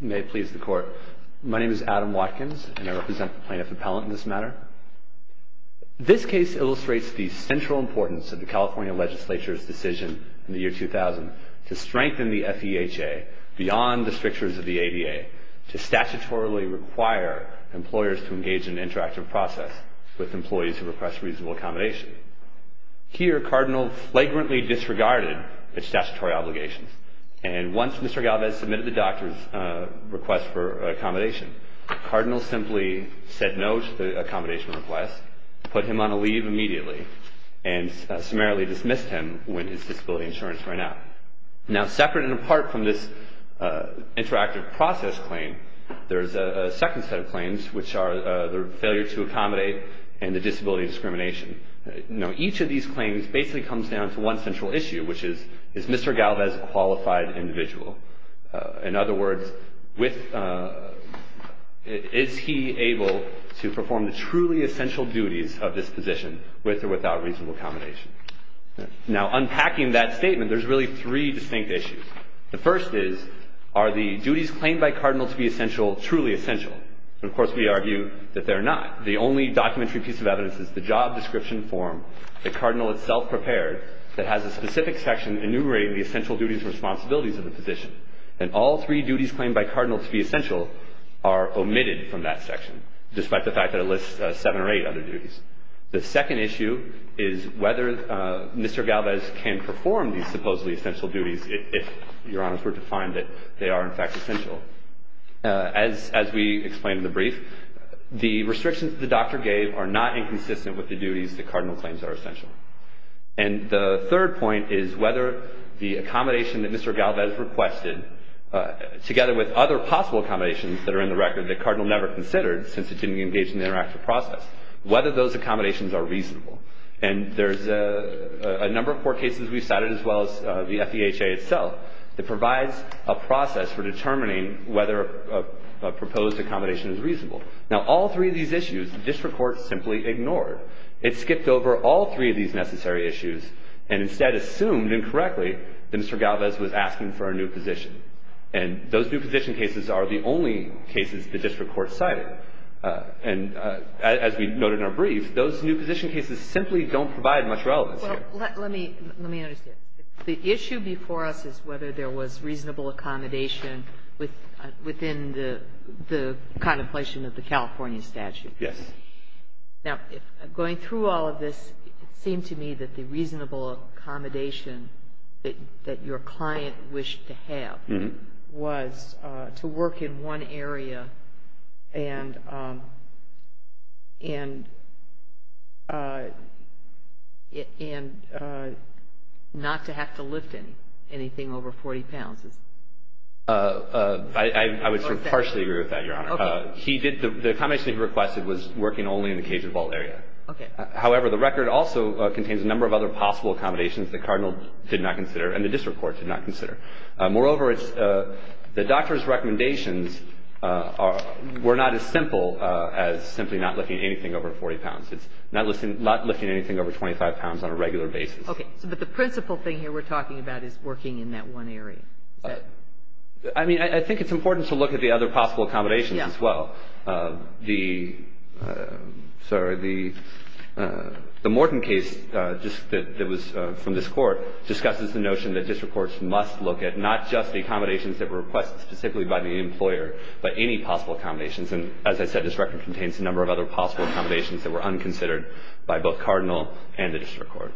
May it please the Court, my name is Adam Watkins and I represent the Plaintiff Appellant in this matter. This case illustrates the central importance of the California Legislature's decision in the year 2000 to strengthen the FEHA beyond the strictures of the ADA, to statutorily require employers to engage in an interactive process with employees who request reasonable accommodation. Here, Cardinal flagrantly disregarded its statutory obligations, and once Mr. Galvez submitted the doctor's request for accommodation, Cardinal simply said no to the accommodation request, put him on a leave immediately, and summarily dismissed him when his disability insurance ran out. Now, separate and apart from this interactive process claim, there is a second set of claims, which are the failure to accommodate and the disability discrimination. Now, each of these claims basically comes down to one central issue, which is, is Mr. Galvez a qualified individual? In other words, is he able to perform the truly essential duties of this position with or without reasonable accommodation? Now, unpacking that statement, there's really three distinct issues. The first is, are the duties claimed by Cardinal to be essential truly essential? And, of course, we argue that they're not. The only documentary piece of evidence is the job description form that Cardinal itself prepared that has a specific section enumerating the essential duties and responsibilities of the position. And all three duties claimed by Cardinal to be essential are omitted from that section, despite the fact that it lists seven or eight other duties. The second issue is whether Mr. Galvez can perform these supposedly essential duties if, Your Honors, we're to find that they are, in fact, essential. As we explained in the brief, the restrictions that the doctor gave are not inconsistent with the duties that Cardinal claims are essential. And the third point is whether the accommodation that Mr. Galvez requested, together with other possible accommodations that are in the record that Cardinal never considered since it didn't engage in the interactive process, whether those accommodations are reasonable. And there's a number of court cases we've cited, as well as the FEHA itself, that provides a process for determining whether a proposed accommodation is reasonable. Now, all three of these issues, the district court simply ignored. It skipped over all three of these necessary issues and instead assumed incorrectly that Mr. Galvez was asking for a new position. And those new position cases are the only cases the district court cited. And as we noted in our brief, those new position cases simply don't provide much relevance here. Let me understand. The issue before us is whether there was reasonable accommodation within the contemplation of the California statute. Yes. Now, going through all of this, it seemed to me that the reasonable accommodation that your client wished to have was to work in one area and not to have to lift anything over 40 pounds. I would sort of partially agree with that, Your Honor. Okay. The accommodation he requested was working only in the Cajun Fault area. Okay. However, the record also contains a number of other possible accommodations that Cardinal did not consider and the district court did not consider. Moreover, the doctor's recommendations were not as simple as simply not lifting anything over 40 pounds. It's not lifting anything over 25 pounds on a regular basis. Okay. But the principal thing here we're talking about is working in that one area. I mean, I think it's important to look at the other possible accommodations as well. Yes. The Morton case just that was from this Court discusses the notion that district courts must look at not just the accommodations that were requested specifically by the employer, but any possible accommodations. And as I said, this record contains a number of other possible accommodations that were unconsidered by both Cardinal and the district court.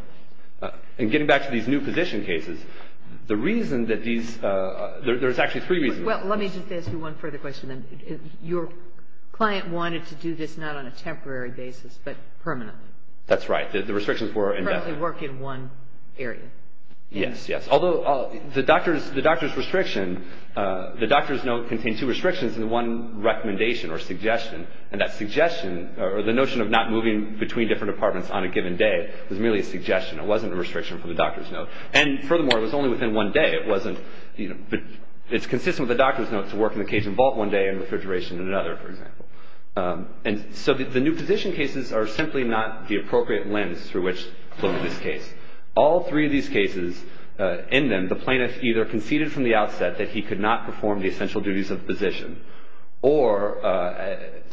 And getting back to these new position cases, the reason that these – there's actually three reasons. Well, let me just ask you one further question then. Your client wanted to do this not on a temporary basis, but permanently. That's right. The restrictions were in effect. Permanently work in one area. Yes, yes. Although the doctor's restriction – the doctor's note contains two restrictions and one recommendation or suggestion. And that suggestion or the notion of not moving between different departments on a given day was merely a suggestion. It wasn't a restriction for the doctor's note. And furthermore, it was only within one day. It wasn't – it's consistent with the doctor's note to work in the Cajun vault one day and refrigeration in another, for example. And so the new position cases are simply not the appropriate lens through which to look at this case. All three of these cases, in them, the plaintiff either conceded from the outset that he could not perform the essential duties of the position, or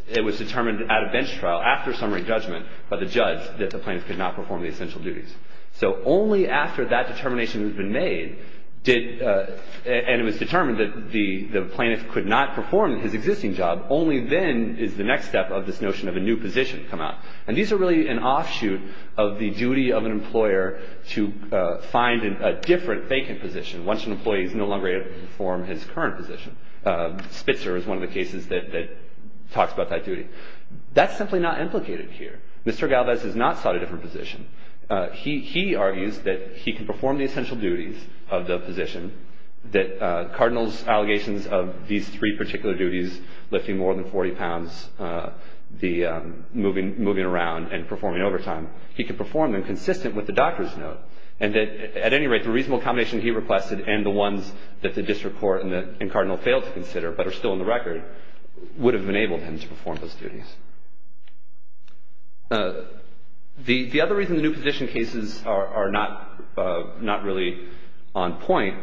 it was determined at a bench trial after summary judgment by the judge that the plaintiff could not perform the essential duties. So only after that determination has been made did – and it was determined that the plaintiff could not perform his existing job, only then is the next step of this notion of a new position come out. And these are really an offshoot of the duty of an employer to find a different vacant position once an employee is no longer able to perform his current position. Spitzer is one of the cases that talks about that duty. That's simply not implicated here. Mr. Galvez has not sought a different position. He argues that he can perform the essential duties of the position, that Cardinal's allegations of these three particular duties, lifting more than 40 pounds, moving around, and performing overtime, he could perform them consistent with the doctor's note, and that, at any rate, the reasonable combination he requested and the ones that the district court and Cardinal failed to consider but are still on the record would have enabled him to perform those duties. The other reason the new position cases are not really on point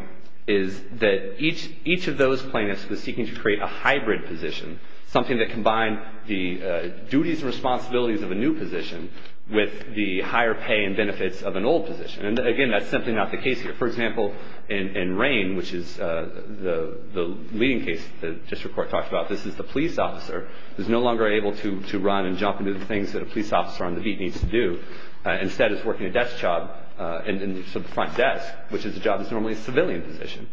is that each of those plaintiffs was seeking to create a hybrid position, something that combined the duties and responsibilities of a new position with the higher pay and benefits of an old position. And, again, that's simply not the case here. For example, in Rain, which is the leading case the district court talked about, this is the police officer who is no longer able to perform or to run and jump into the things that a police officer on the beat needs to do. Instead, it's working a desk job in the front desk, which is a job that's normally a civilian position.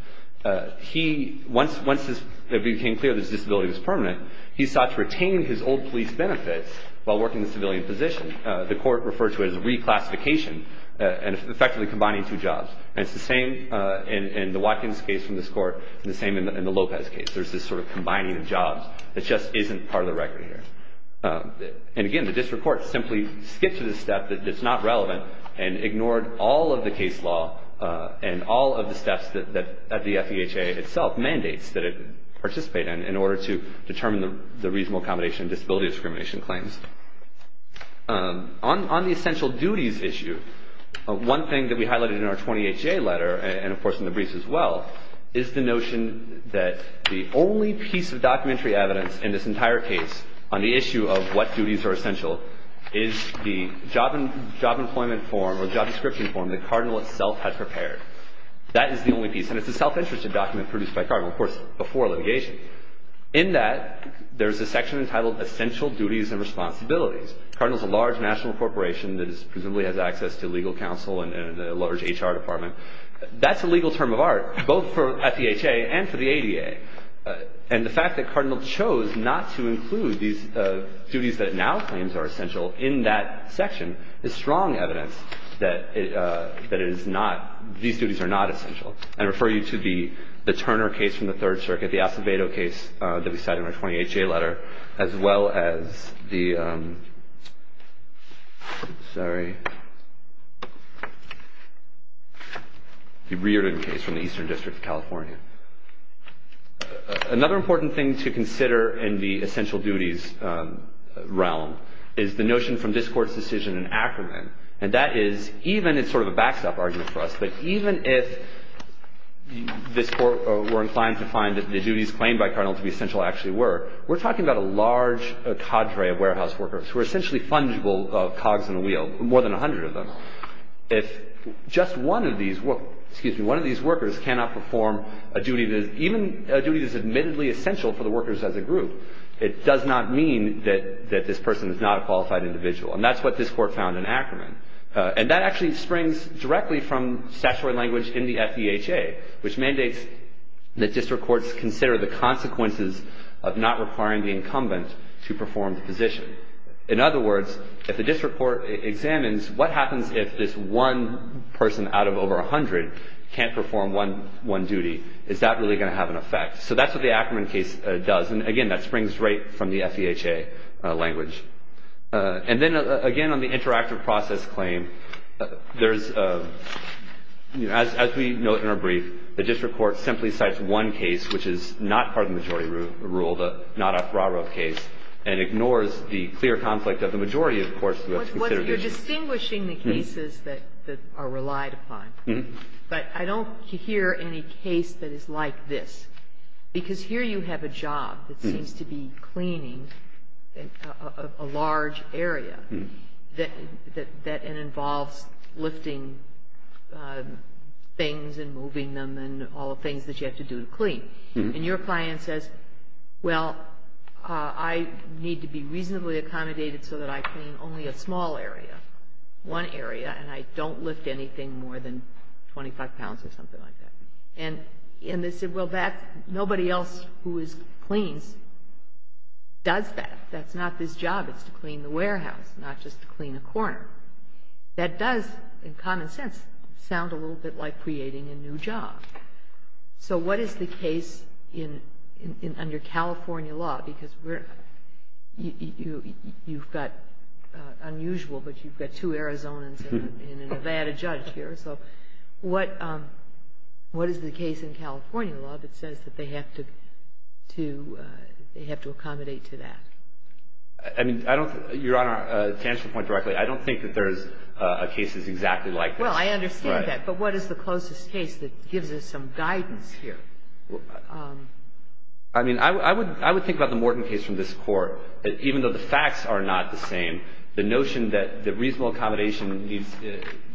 Once it became clear that his disability was permanent, he sought to retain his old police benefits while working the civilian position. The court referred to it as reclassification, and effectively combining two jobs. And it's the same in the Watkins case from this court and the same in the Lopez case. There's this sort of combining of jobs that just isn't part of the record here. And, again, the district court simply skipped to the step that's not relevant and ignored all of the case law and all of the steps that the FEHA itself mandates that it participate in in order to determine the reasonable accommodation and disability discrimination claims. On the essential duties issue, one thing that we highlighted in our 20HA letter and, of course, in the briefs as well, is the notion that the only piece of documentary evidence in this entire case on the issue of what duties are essential is the job employment form or job description form that Cardinal itself had prepared. That is the only piece, and it's a self-interested document produced by Cardinal, of course, before litigation. In that, there's a section entitled Essential Duties and Responsibilities. Cardinal's a large national corporation that presumably has access to legal counsel and a large HR department. That's a legal term of art, both for FEHA and for the ADA. And the fact that Cardinal chose not to include these duties that it now claims are essential in that section is strong evidence that it is not – these duties are not essential. I refer you to the Turner case from the Third Circuit, the Acevedo case that we cite in our 20HA letter, as well as the – sorry – the Reardon case from the Eastern District of California. Another important thing to consider in the essential duties realm is the notion from this Court's decision in Ackerman, and that is even – it's sort of a backstop argument for us – but even if this Court were inclined to find that the duties claimed by Cardinal to be essential actually were, we're talking about a large cadre of warehouse workers who are essentially fungible cogs in a wheel, more than 100 of them. If just one of these workers cannot perform a duty that is – even a duty that is admittedly essential for the workers as a group, it does not mean that this person is not a qualified individual. And that's what this Court found in Ackerman. And that actually springs directly from statutory language in the FEHA, which mandates that district courts consider the consequences of not requiring the incumbent to perform the position. In other words, if a district court examines what happens if this one person out of over 100 can't perform one duty, is that really going to have an effect? So that's what the Ackerman case does. And, again, that springs right from the FEHA language. And then, again, on the interactive process claim, there's – as we note in our brief, the district court simply cites one case which is not part of the majority rule, the not-off-broad road case, and ignores the clear conflict of the majority of courts who have to consider the issue. You're distinguishing the cases that are relied upon. But I don't hear any case that is like this, because here you have a job that seems to be cleaning a large area that involves lifting things and moving them and all the things that you have to do to clean. And your client says, well, I need to be reasonably accommodated so that I clean only a small area, one area, and I don't lift anything more than 25 pounds or something like that. And they said, well, nobody else who cleans does that. That's not this job. It's to clean the warehouse, not just to clean a corner. That does, in common sense, sound a little bit like creating a new job. So what is the case under California law? Because you've got – unusual, but you've got two Arizonans and a Nevada judge here. So what is the case in California law that says that they have to accommodate to that? I mean, I don't – Your Honor, to answer the point directly, I don't think that there's cases exactly like this. Well, I understand that. But what is the closest case that gives us some guidance here? I mean, I would think about the Morton case from this Court, that even though the facts are not the same, the notion that the reasonable accommodation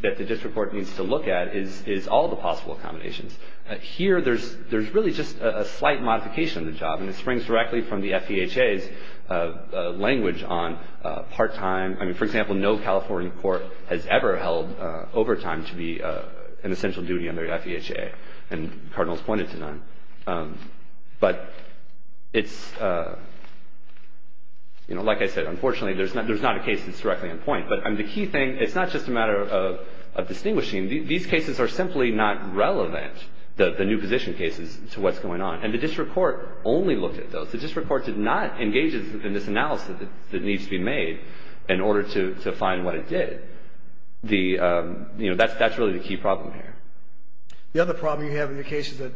that the district court needs to look at is all the possible accommodations. Here, there's really just a slight modification of the job, and it springs directly from the FEHA's language on part-time – I mean, for example, no California court has ever held overtime to be an essential duty under the FEHA, and the Cardinal's pointed to none. But it's – you know, like I said, unfortunately, there's not a case that's directly on point. But the key thing – it's not just a matter of distinguishing. These cases are simply not relevant, the new position cases, to what's going on. And the district court only looked at those. The district court did not engage in this analysis that needs to be made in order to find what it did. The – you know, that's really the key problem here. The other problem you have in the case is that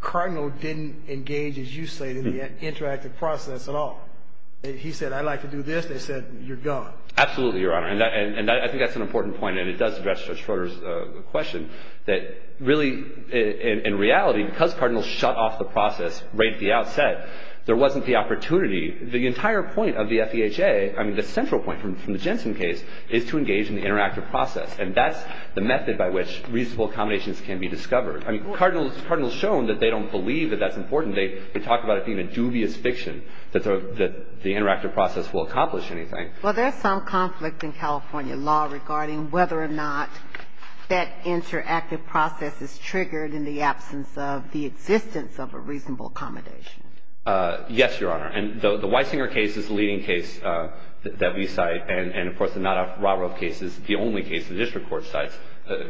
Cardinal didn't engage, as you say, in the interactive process at all. He said, I'd like to do this. They said, you're gone. Absolutely, Your Honor. And I think that's an important point, and it does address Judge Schroeder's question, that really, in reality, because Cardinal shut off the process right at the outset, there wasn't the opportunity. The entire point of the FEHA – I mean, the central point from the Jensen case is to engage in the interactive process, and that's the method by which reasonable accommodations can be discovered. I mean, Cardinal has shown that they don't believe that that's important. They talk about it being a dubious fiction, that the interactive process will accomplish anything. Well, there's some conflict in California law regarding whether or not that interactive process is triggered in the absence of the existence of a reasonable accommodation. Yes, Your Honor. And the Weisinger case is the leading case that we cite. And, of course, the Nadov-Ravrov case is the only case the district court cites,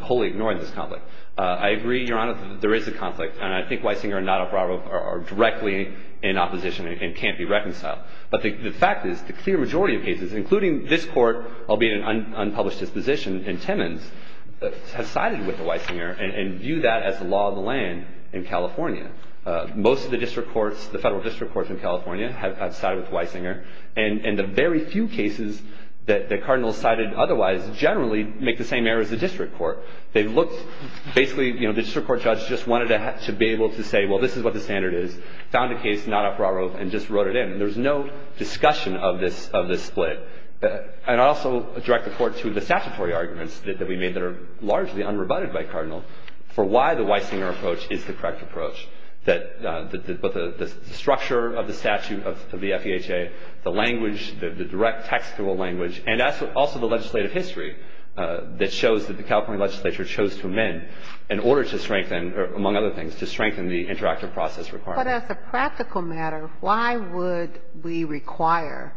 wholly ignoring this conflict. I agree, Your Honor, there is a conflict. And I think Weisinger and Nadov-Ravrov are directly in opposition and can't be reconciled. But the fact is, the clear majority of cases, including this court, albeit an unpublished disposition in Timmins, has sided with the Weisinger and view that as the law of the land in California. Most of the district courts, the federal district courts in California, have sided with Weisinger. And the very few cases that Cardinal has cited otherwise generally make the same error as the district court. They've looked, basically, you know, the district court judge just wanted to be able to say, well, this is what the standard is, found a case, Nadov-Ravrov, and just wrote it in. There's no discussion of this split. And I also direct the court to the statutory arguments that we made that are largely unrebutted by Cardinal for why the Weisinger approach is the correct approach, that the structure of the statute of the FEHA, the language, the direct textual language, and also the legislative history that shows that the California legislature chose to amend in order to strengthen, among other things, to strengthen the interactive process requirement. But as a practical matter, why would we require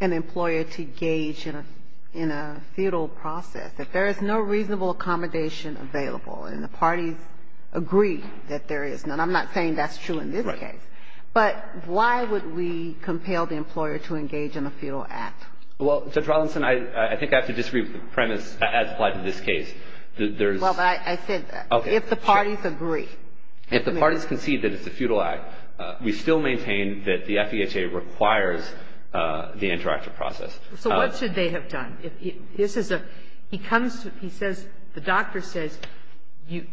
an employer to gauge in a feudal process if there is no reasonable accommodation available and the parties agree that there is none? I'm not saying that's true in this case. But why would we compel the employer to engage in a feudal act? Well, Judge Rollinson, I think I have to disagree with the premise as applied to this case. There's – Well, but I said that. Okay. If the parties agree. If the parties concede that it's a feudal act, we still maintain that the FEHA requires the interactive process. So what should they have done? This is a – he comes to – he says – the doctor says he's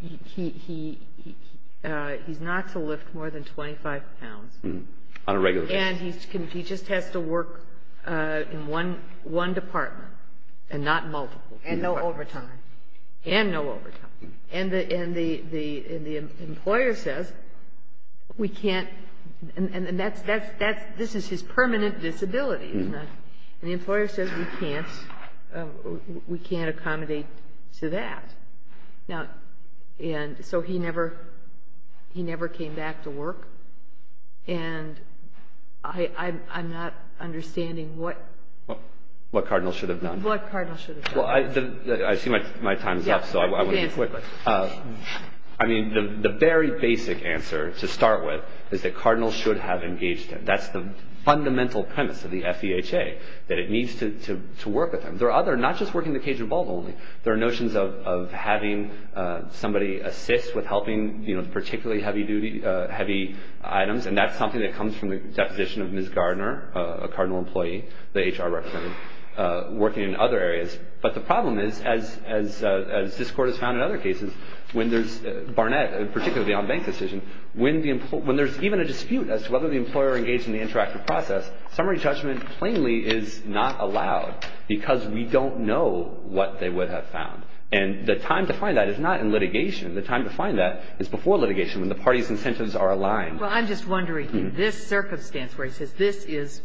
not to lift more than 25 pounds. On a regular basis. And he just has to work in one department and not multiple. And no overtime. And no overtime. And the employer says we can't – and that's – this is his permanent disability, isn't it? And the employer says we can't – we can't accommodate to that. Now – and so he never – he never came back to work. And I'm not understanding what – What Cardinal should have done. What Cardinal should have done. Well, I see my time is up, so I will be quick. I mean, the very basic answer to start with is that Cardinal should have engaged him. That's the fundamental premise of the FEHA. That it needs to work with him. There are other – not just working the cage of a bulb only. There are notions of having somebody assist with helping, you know, particularly heavy duty – heavy items. And that's something that comes from the deposition of Ms. Gardner, a Cardinal employee, the HR representative, working in other areas. But the problem is, as this court has found in other cases, when there's Barnett, particularly on Banks' decision, when there's even a dispute as to whether the employer engaged in the interactive process, summary judgment plainly is not allowed because we don't know what they would have found. And the time to find that is not in litigation. The time to find that is before litigation, when the parties' incentives are aligned. Well, I'm just wondering, in this circumstance where he says this is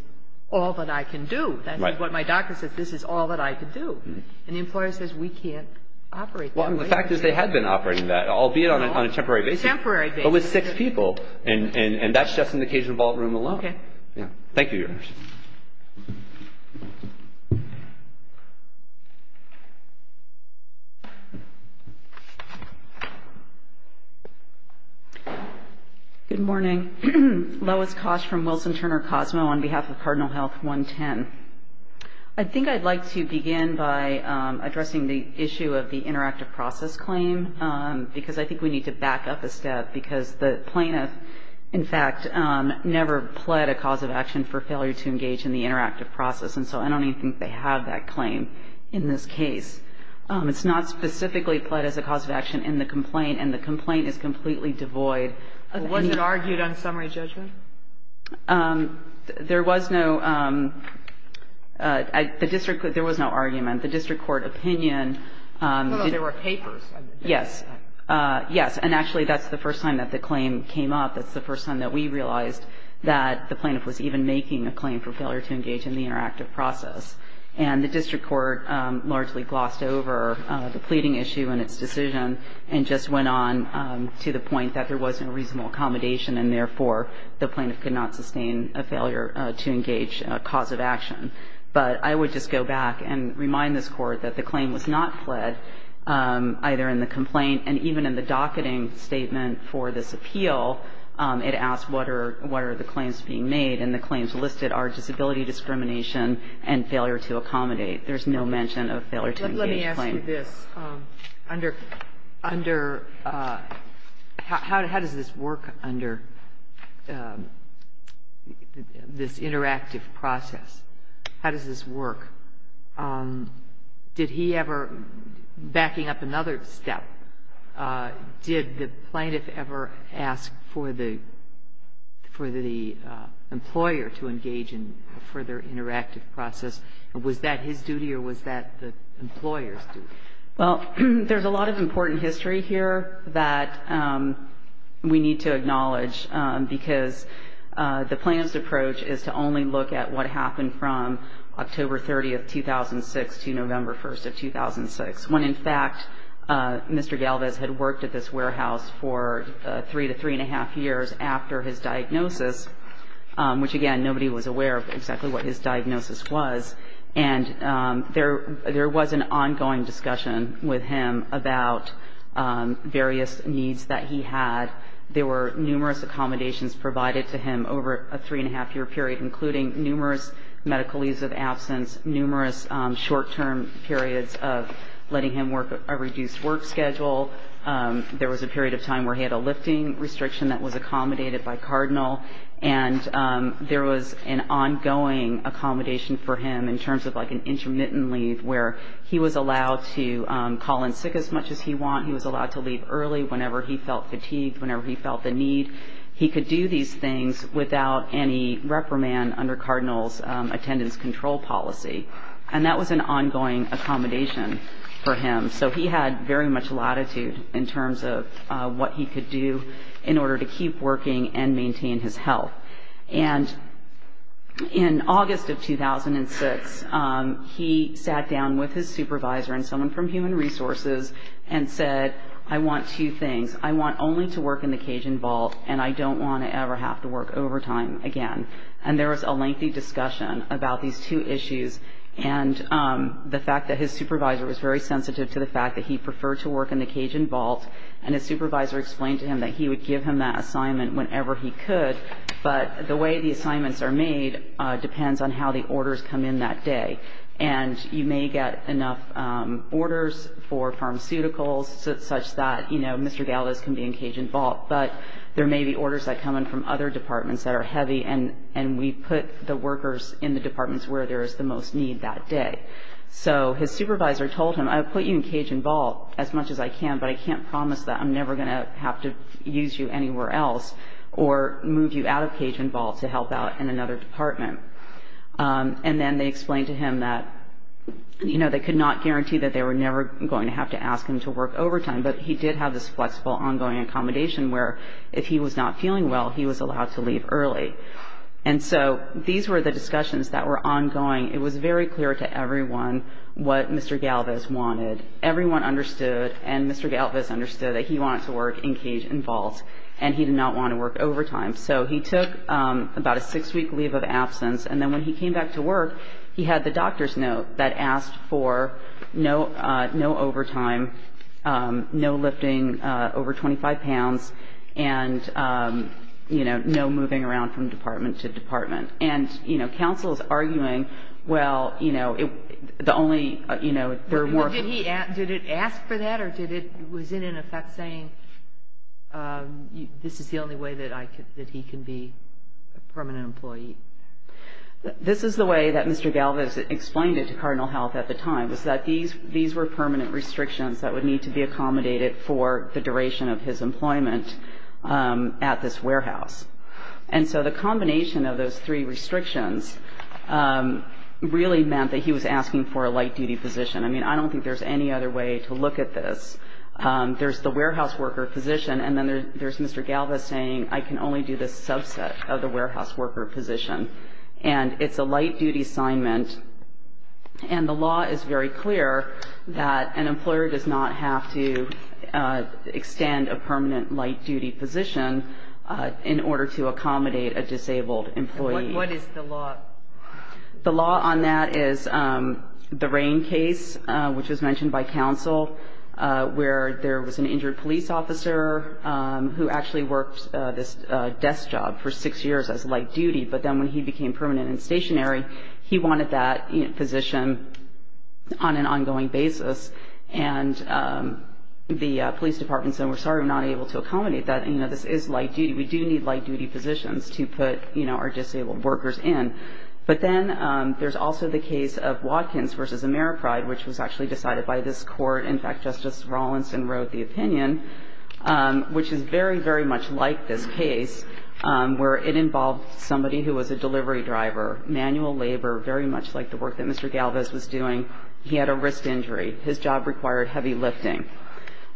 all that I can do, that's what my doctor says this is all that I can do, and the employer says we can't operate that way. Well, the fact is they had been operating that, albeit on a temporary basis. Temporary basis. But with six people, and that's just in the cage of a bulb room alone. Okay. Thank you, Your Honor. Good morning. Lois Kosch from Wilson Turner Cosmo on behalf of Cardinal Health 110. I think I'd like to begin by addressing the issue of the interactive process claim, because I think we need to back up a step, because the plaintiff, in fact, never pled a cause of action for failure to engage in the interactive process, and so I don't even think they have that claim in this case. It's not specifically pled as a cause of action in the complaint, and the complaint is completely devoid. Was it argued on summary judgment? There was no argument. The district court opinion. No, no, there were papers. Yes. Yes. And actually, that's the first time that the claim came up. That's the first time that we realized that the plaintiff was even making a claim for failure to engage in the interactive process. And the district court largely glossed over the pleading issue and its decision and just went on to the point that there wasn't a reasonable accommodation, and therefore the plaintiff could not sustain a failure to engage in a cause of action. But I would just go back and remind this Court that the claim was not pled either in the complaint and even in the docketing statement for this appeal. It asked what are the claims being made, and the claims listed are disability discrimination and failure to accommodate. There's no mention of failure to engage claim. Let me ask you this. How does this work under this interactive process? How does this work? Did he ever, backing up another step, did the plaintiff ever ask for the employer to engage in a further interactive process? Was that his duty or was that the employer's duty? Well, there's a lot of important history here that we need to acknowledge because the plaintiff's approach is to only look at what happened from October 30th, 2006 to November 1st of 2006, when in fact Mr. Galvez had worked at this warehouse for three to three and a half years after his diagnosis, which, again, nobody was aware of exactly what his diagnosis was. And there was an ongoing discussion with him about various needs that he had. There were numerous accommodations provided to him over a three and a half year period, including numerous medical leaves of absence, numerous short-term periods of letting him work a reduced work schedule. There was a period of time where he had a lifting restriction that was accommodated by Cardinal. And there was an ongoing accommodation for him in terms of like an intermittent leave where he was allowed to call in sick as much as he want. He was allowed to leave early whenever he felt fatigued, whenever he felt the need. He could do these things without any reprimand under Cardinal's attendance control policy. And that was an ongoing accommodation for him. So he had very much latitude in terms of what he could do in order to keep working and maintain his health. And in August of 2006, he sat down with his supervisor and someone from Human Resources and said, I want two things. I want only to work in the Cajun vault, and I don't want to ever have to work overtime again. And there was a lengthy discussion about these two issues. And the fact that his supervisor was very sensitive to the fact that he preferred to work in the Cajun vault, and his supervisor explained to him that he would give him that assignment whenever he could, but the way the assignments are made depends on how the orders come in that day. And you may get enough orders for pharmaceuticals such that, you know, Mr. Galvez can be in Cajun vault, but there may be orders that come in from other departments that are heavy, and we put the workers in the departments where there is the most need that day. So his supervisor told him, I'll put you in Cajun vault as much as I can, but I can't promise that I'm never going to have to use you anywhere else or move you out of Cajun vault to help out in another department. And then they explained to him that, you know, they could not guarantee that they were never going to have to ask him to work overtime, but he did have this flexible ongoing accommodation where if he was not feeling well, he was allowed to leave early. And so these were the discussions that were ongoing. It was very clear to everyone what Mr. Galvez wanted. Everyone understood, and Mr. Galvez understood, that he wanted to work in Cajun vault, and he did not want to work overtime. So he took about a six-week leave of absence, and then when he came back to work, he had the doctor's note that asked for no overtime, no lifting over 25 pounds, and, you know, no moving around from department to department. And, you know, counsel is arguing, well, you know, the only, you know, there are more. Did he ask for that, or was it in effect saying this is the only way that he can be a permanent employee? This is the way that Mr. Galvez explained it to Cardinal Health at the time, was that these were permanent restrictions that would need to be accommodated for the duration of his employment at this warehouse. And so the combination of those three restrictions really meant that he was asking for a light-duty position. I mean, I don't think there's any other way to look at this. There's the warehouse worker position, and then there's Mr. Galvez saying, I can only do this subset of the warehouse worker position, and it's a light-duty assignment. And the law is very clear that an employer does not have to extend a permanent light-duty position in order to accommodate a disabled employee. What is the law? The law on that is the Rain case, which was mentioned by counsel, where there was an injured police officer who actually worked this desk job for six years as light-duty. But then when he became permanent and stationary, he wanted that position on an ongoing basis. And the police department said, we're sorry, we're not able to accommodate that. This is light-duty. We do need light-duty positions to put our disabled workers in. But then there's also the case of Watkins v. Ameripride, which was actually decided by this court. In fact, Justice Rawlinson wrote the opinion, which is very, very much like this case, where it involved somebody who was a delivery driver, manual labor, very much like the work that Mr. Galvez was doing. He had a wrist injury. His job required heavy lifting.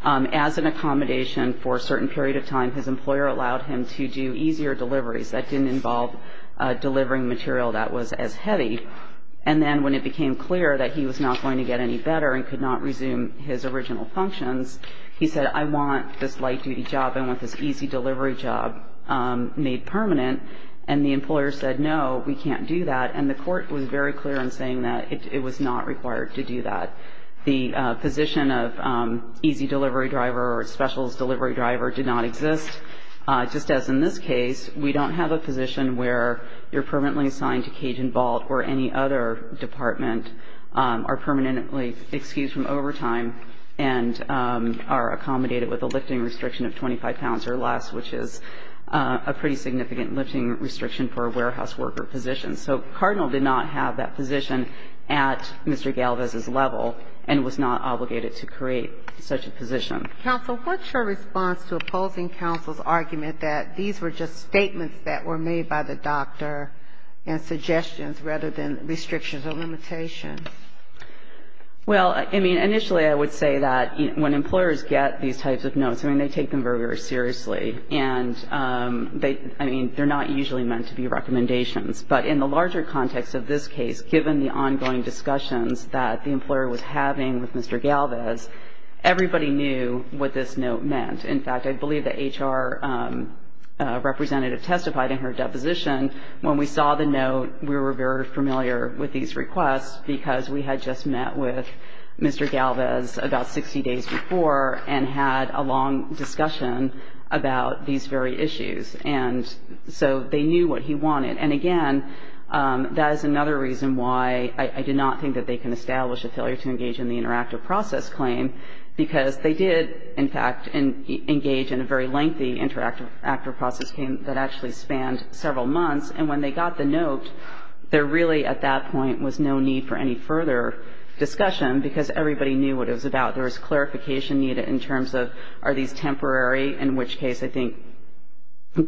As an accommodation for a certain period of time, his employer allowed him to do easier deliveries. That didn't involve delivering material that was as heavy. And then when it became clear that he was not going to get any better and could not resume his original functions, he said, I want this light-duty job. I want this easy delivery job made permanent. And the employer said, no, we can't do that. And the court was very clear in saying that it was not required to do that. The position of easy delivery driver or specials delivery driver did not exist. Just as in this case, we don't have a position where you're permanently assigned to Cajun Vault or any other department, are permanently excused from overtime, and are accommodated with a lifting restriction of 25 pounds or less, which is a pretty significant lifting restriction for a warehouse worker position. So Cardinal did not have that position at Mr. Galvez's level and was not obligated to create such a position. Counsel, what's your response to opposing counsel's argument that these were just statements that were made by the doctor and suggestions rather than restrictions or limitations? Well, I mean, initially I would say that when employers get these types of notes, I mean, they take them very, very seriously. And, I mean, they're not usually meant to be recommendations. But in the larger context of this case, given the ongoing discussions that the employer was having with Mr. Galvez, everybody knew what this note meant. In fact, I believe the HR representative testified in her deposition. When we saw the note, we were very familiar with these requests, because we had just met with Mr. Galvez about 60 days before and had a long discussion about these very issues. And so they knew what he wanted. And, again, that is another reason why I did not think that they can establish a failure to engage in the interactive process claim, because they did, in fact, engage in a very lengthy interactive process claim that actually spanned several months. And when they got the note, there really at that point was no need for any further discussion, because everybody knew what it was about. There was clarification needed in terms of are these temporary, in which case I think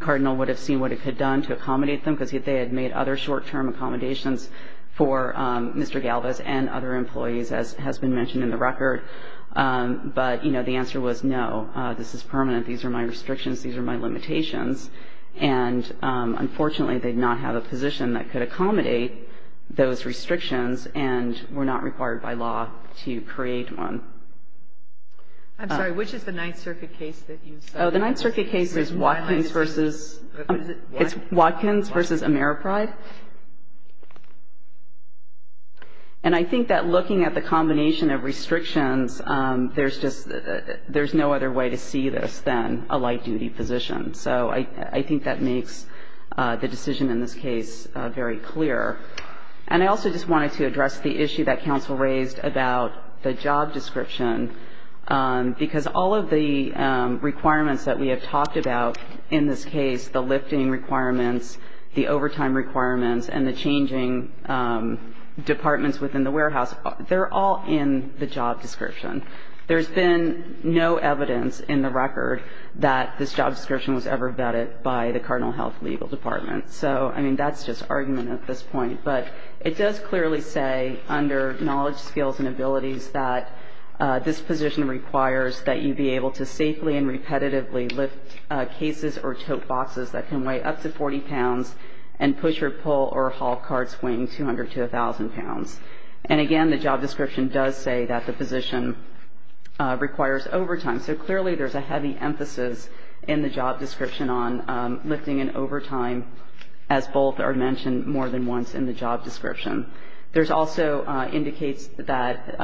Cardinal would have seen what it could have done to accommodate them, because they had made other short-term accommodations for Mr. Galvez and other employees, as has been mentioned in the record. But, you know, the answer was no, this is permanent, these are my restrictions, these are my limitations. And, unfortunately, they did not have a position that could accommodate those restrictions and were not required by law to create one. I'm sorry, which is the Ninth Circuit case that you cited? Oh, the Ninth Circuit case is Watkins versus Ameripride. And I think that looking at the combination of restrictions, there's no other way to see this than a light-duty position. So I think that makes the decision in this case very clear. And I also just wanted to address the issue that counsel raised about the job description, because all of the requirements that we have talked about in this case, the lifting requirements, the overtime requirements, and the changing departments within the warehouse, they're all in the job description. There's been no evidence in the record that this job description was ever vetted by the Cardinal Health Legal Department. So, I mean, that's just argument at this point. But it does clearly say under knowledge, skills, and abilities that this position requires that you be able to safely and repetitively lift cases or tote boxes that can weigh up to 40 pounds and push or pull or haul carts weighing 200 to 1,000 pounds. And, again, the job description does say that the position requires overtime. So clearly there's a heavy emphasis in the job description on lifting and overtime, as both are mentioned more than once in the job description. There's also indicates that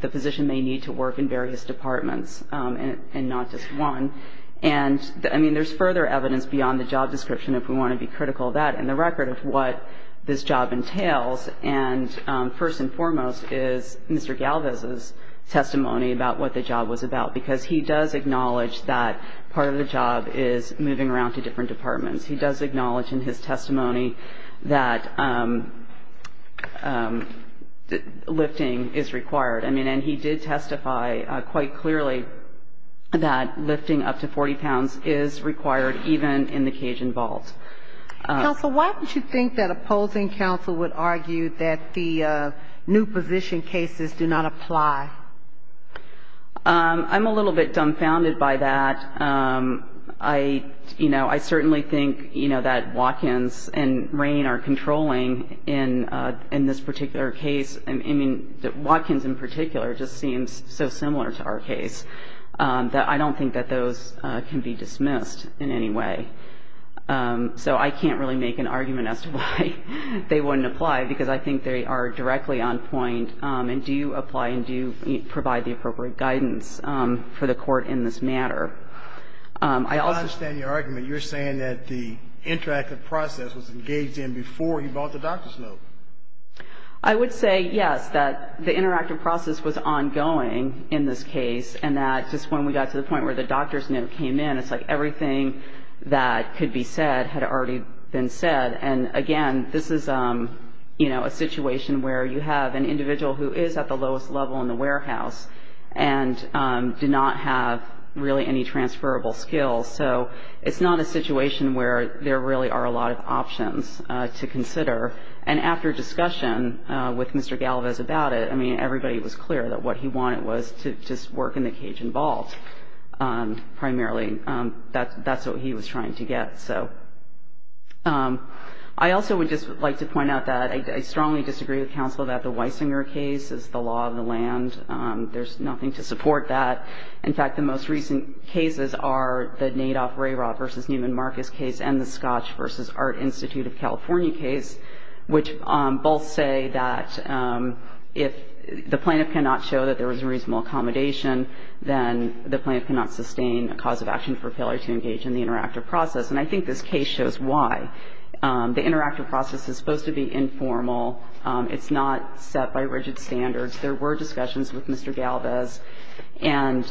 the position may need to work in various departments and not just one. And, I mean, there's further evidence beyond the job description if we want to be critical of that in the record of what this job entails. And first and foremost is Mr. Galvez's testimony about what the job was about, because he does acknowledge that part of the job is moving around to different departments. He does acknowledge in his testimony that lifting is required. I mean, and he did testify quite clearly that lifting up to 40 pounds is required, even in the Cajun vault. Counsel, why would you think that opposing counsel would argue that the new position cases do not apply? I'm a little bit dumbfounded by that. You know, I certainly think, you know, that Watkins and Rain are controlling in this particular case. I mean, Watkins in particular just seems so similar to our case that I don't think that those can be dismissed in any way. So I can't really make an argument as to why they wouldn't apply, because I think they are directly on point, and do apply and do provide the appropriate guidance for the Court in this matter. I understand your argument. You're saying that the interactive process was engaged in before he bought the doctor's note. I would say yes, that the interactive process was ongoing in this case, and that just when we got to the point where the doctor's note came in, it's like everything that could be said had already been said. And again, this is, you know, a situation where you have an individual who is at the lowest level in the warehouse and did not have really any transferable skills. So it's not a situation where there really are a lot of options to consider. And after discussion with Mr. Galvez about it, I mean, everybody was clear that what he wanted was to just work in the Cajun vault primarily. That's what he was trying to get. I also would just like to point out that I strongly disagree with counsel that the Weisinger case is the law of the land. There's nothing to support that. In fact, the most recent cases are the Nadov-Rayrott v. Neiman Marcus case and the Scotch v. Art Institute of California case, which both say that if the plaintiff cannot show that there was reasonable accommodation, then the plaintiff cannot sustain a cause of action for failure to engage in the interactive process. And I think this case shows why. The interactive process is supposed to be informal. It's not set by rigid standards. There were discussions with Mr. Galvez, and,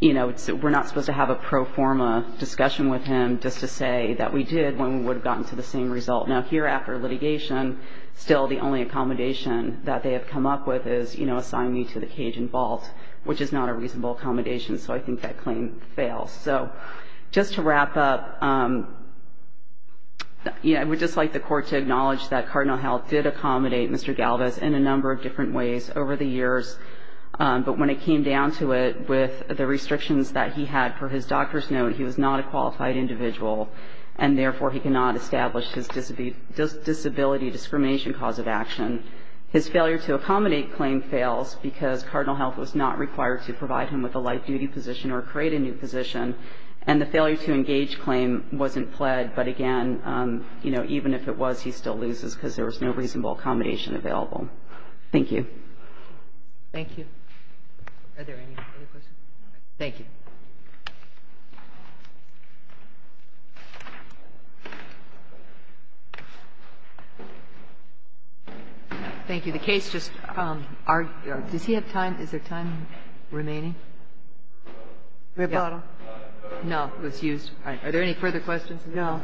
you know, we're not supposed to have a pro forma discussion with him just to say that we did when we would have gotten to the same result. Now, here after litigation, still the only accommodation that they have come up with is, you know, I would just like the Court to acknowledge that Cardinal Health did accommodate Mr. Galvez in a number of different ways over the years, but when it came down to it with the restrictions that he had for his doctor's note, he was not a qualified individual, and therefore he cannot establish his disability discrimination cause of action. His failure to accommodate claim fails because Cardinal Health was not required to provide him with a life duty position or create a new position, and the failure to engage claim wasn't pled. But again, you know, even if it was, he still loses because there was no reasonable accommodation available. Thank you. Kagan. Thank you. Are there any other questions? Thank you. Thank you. The case just argued. Does he have time? Is there time remaining? No. It was used. Are there any further questions? No. All right.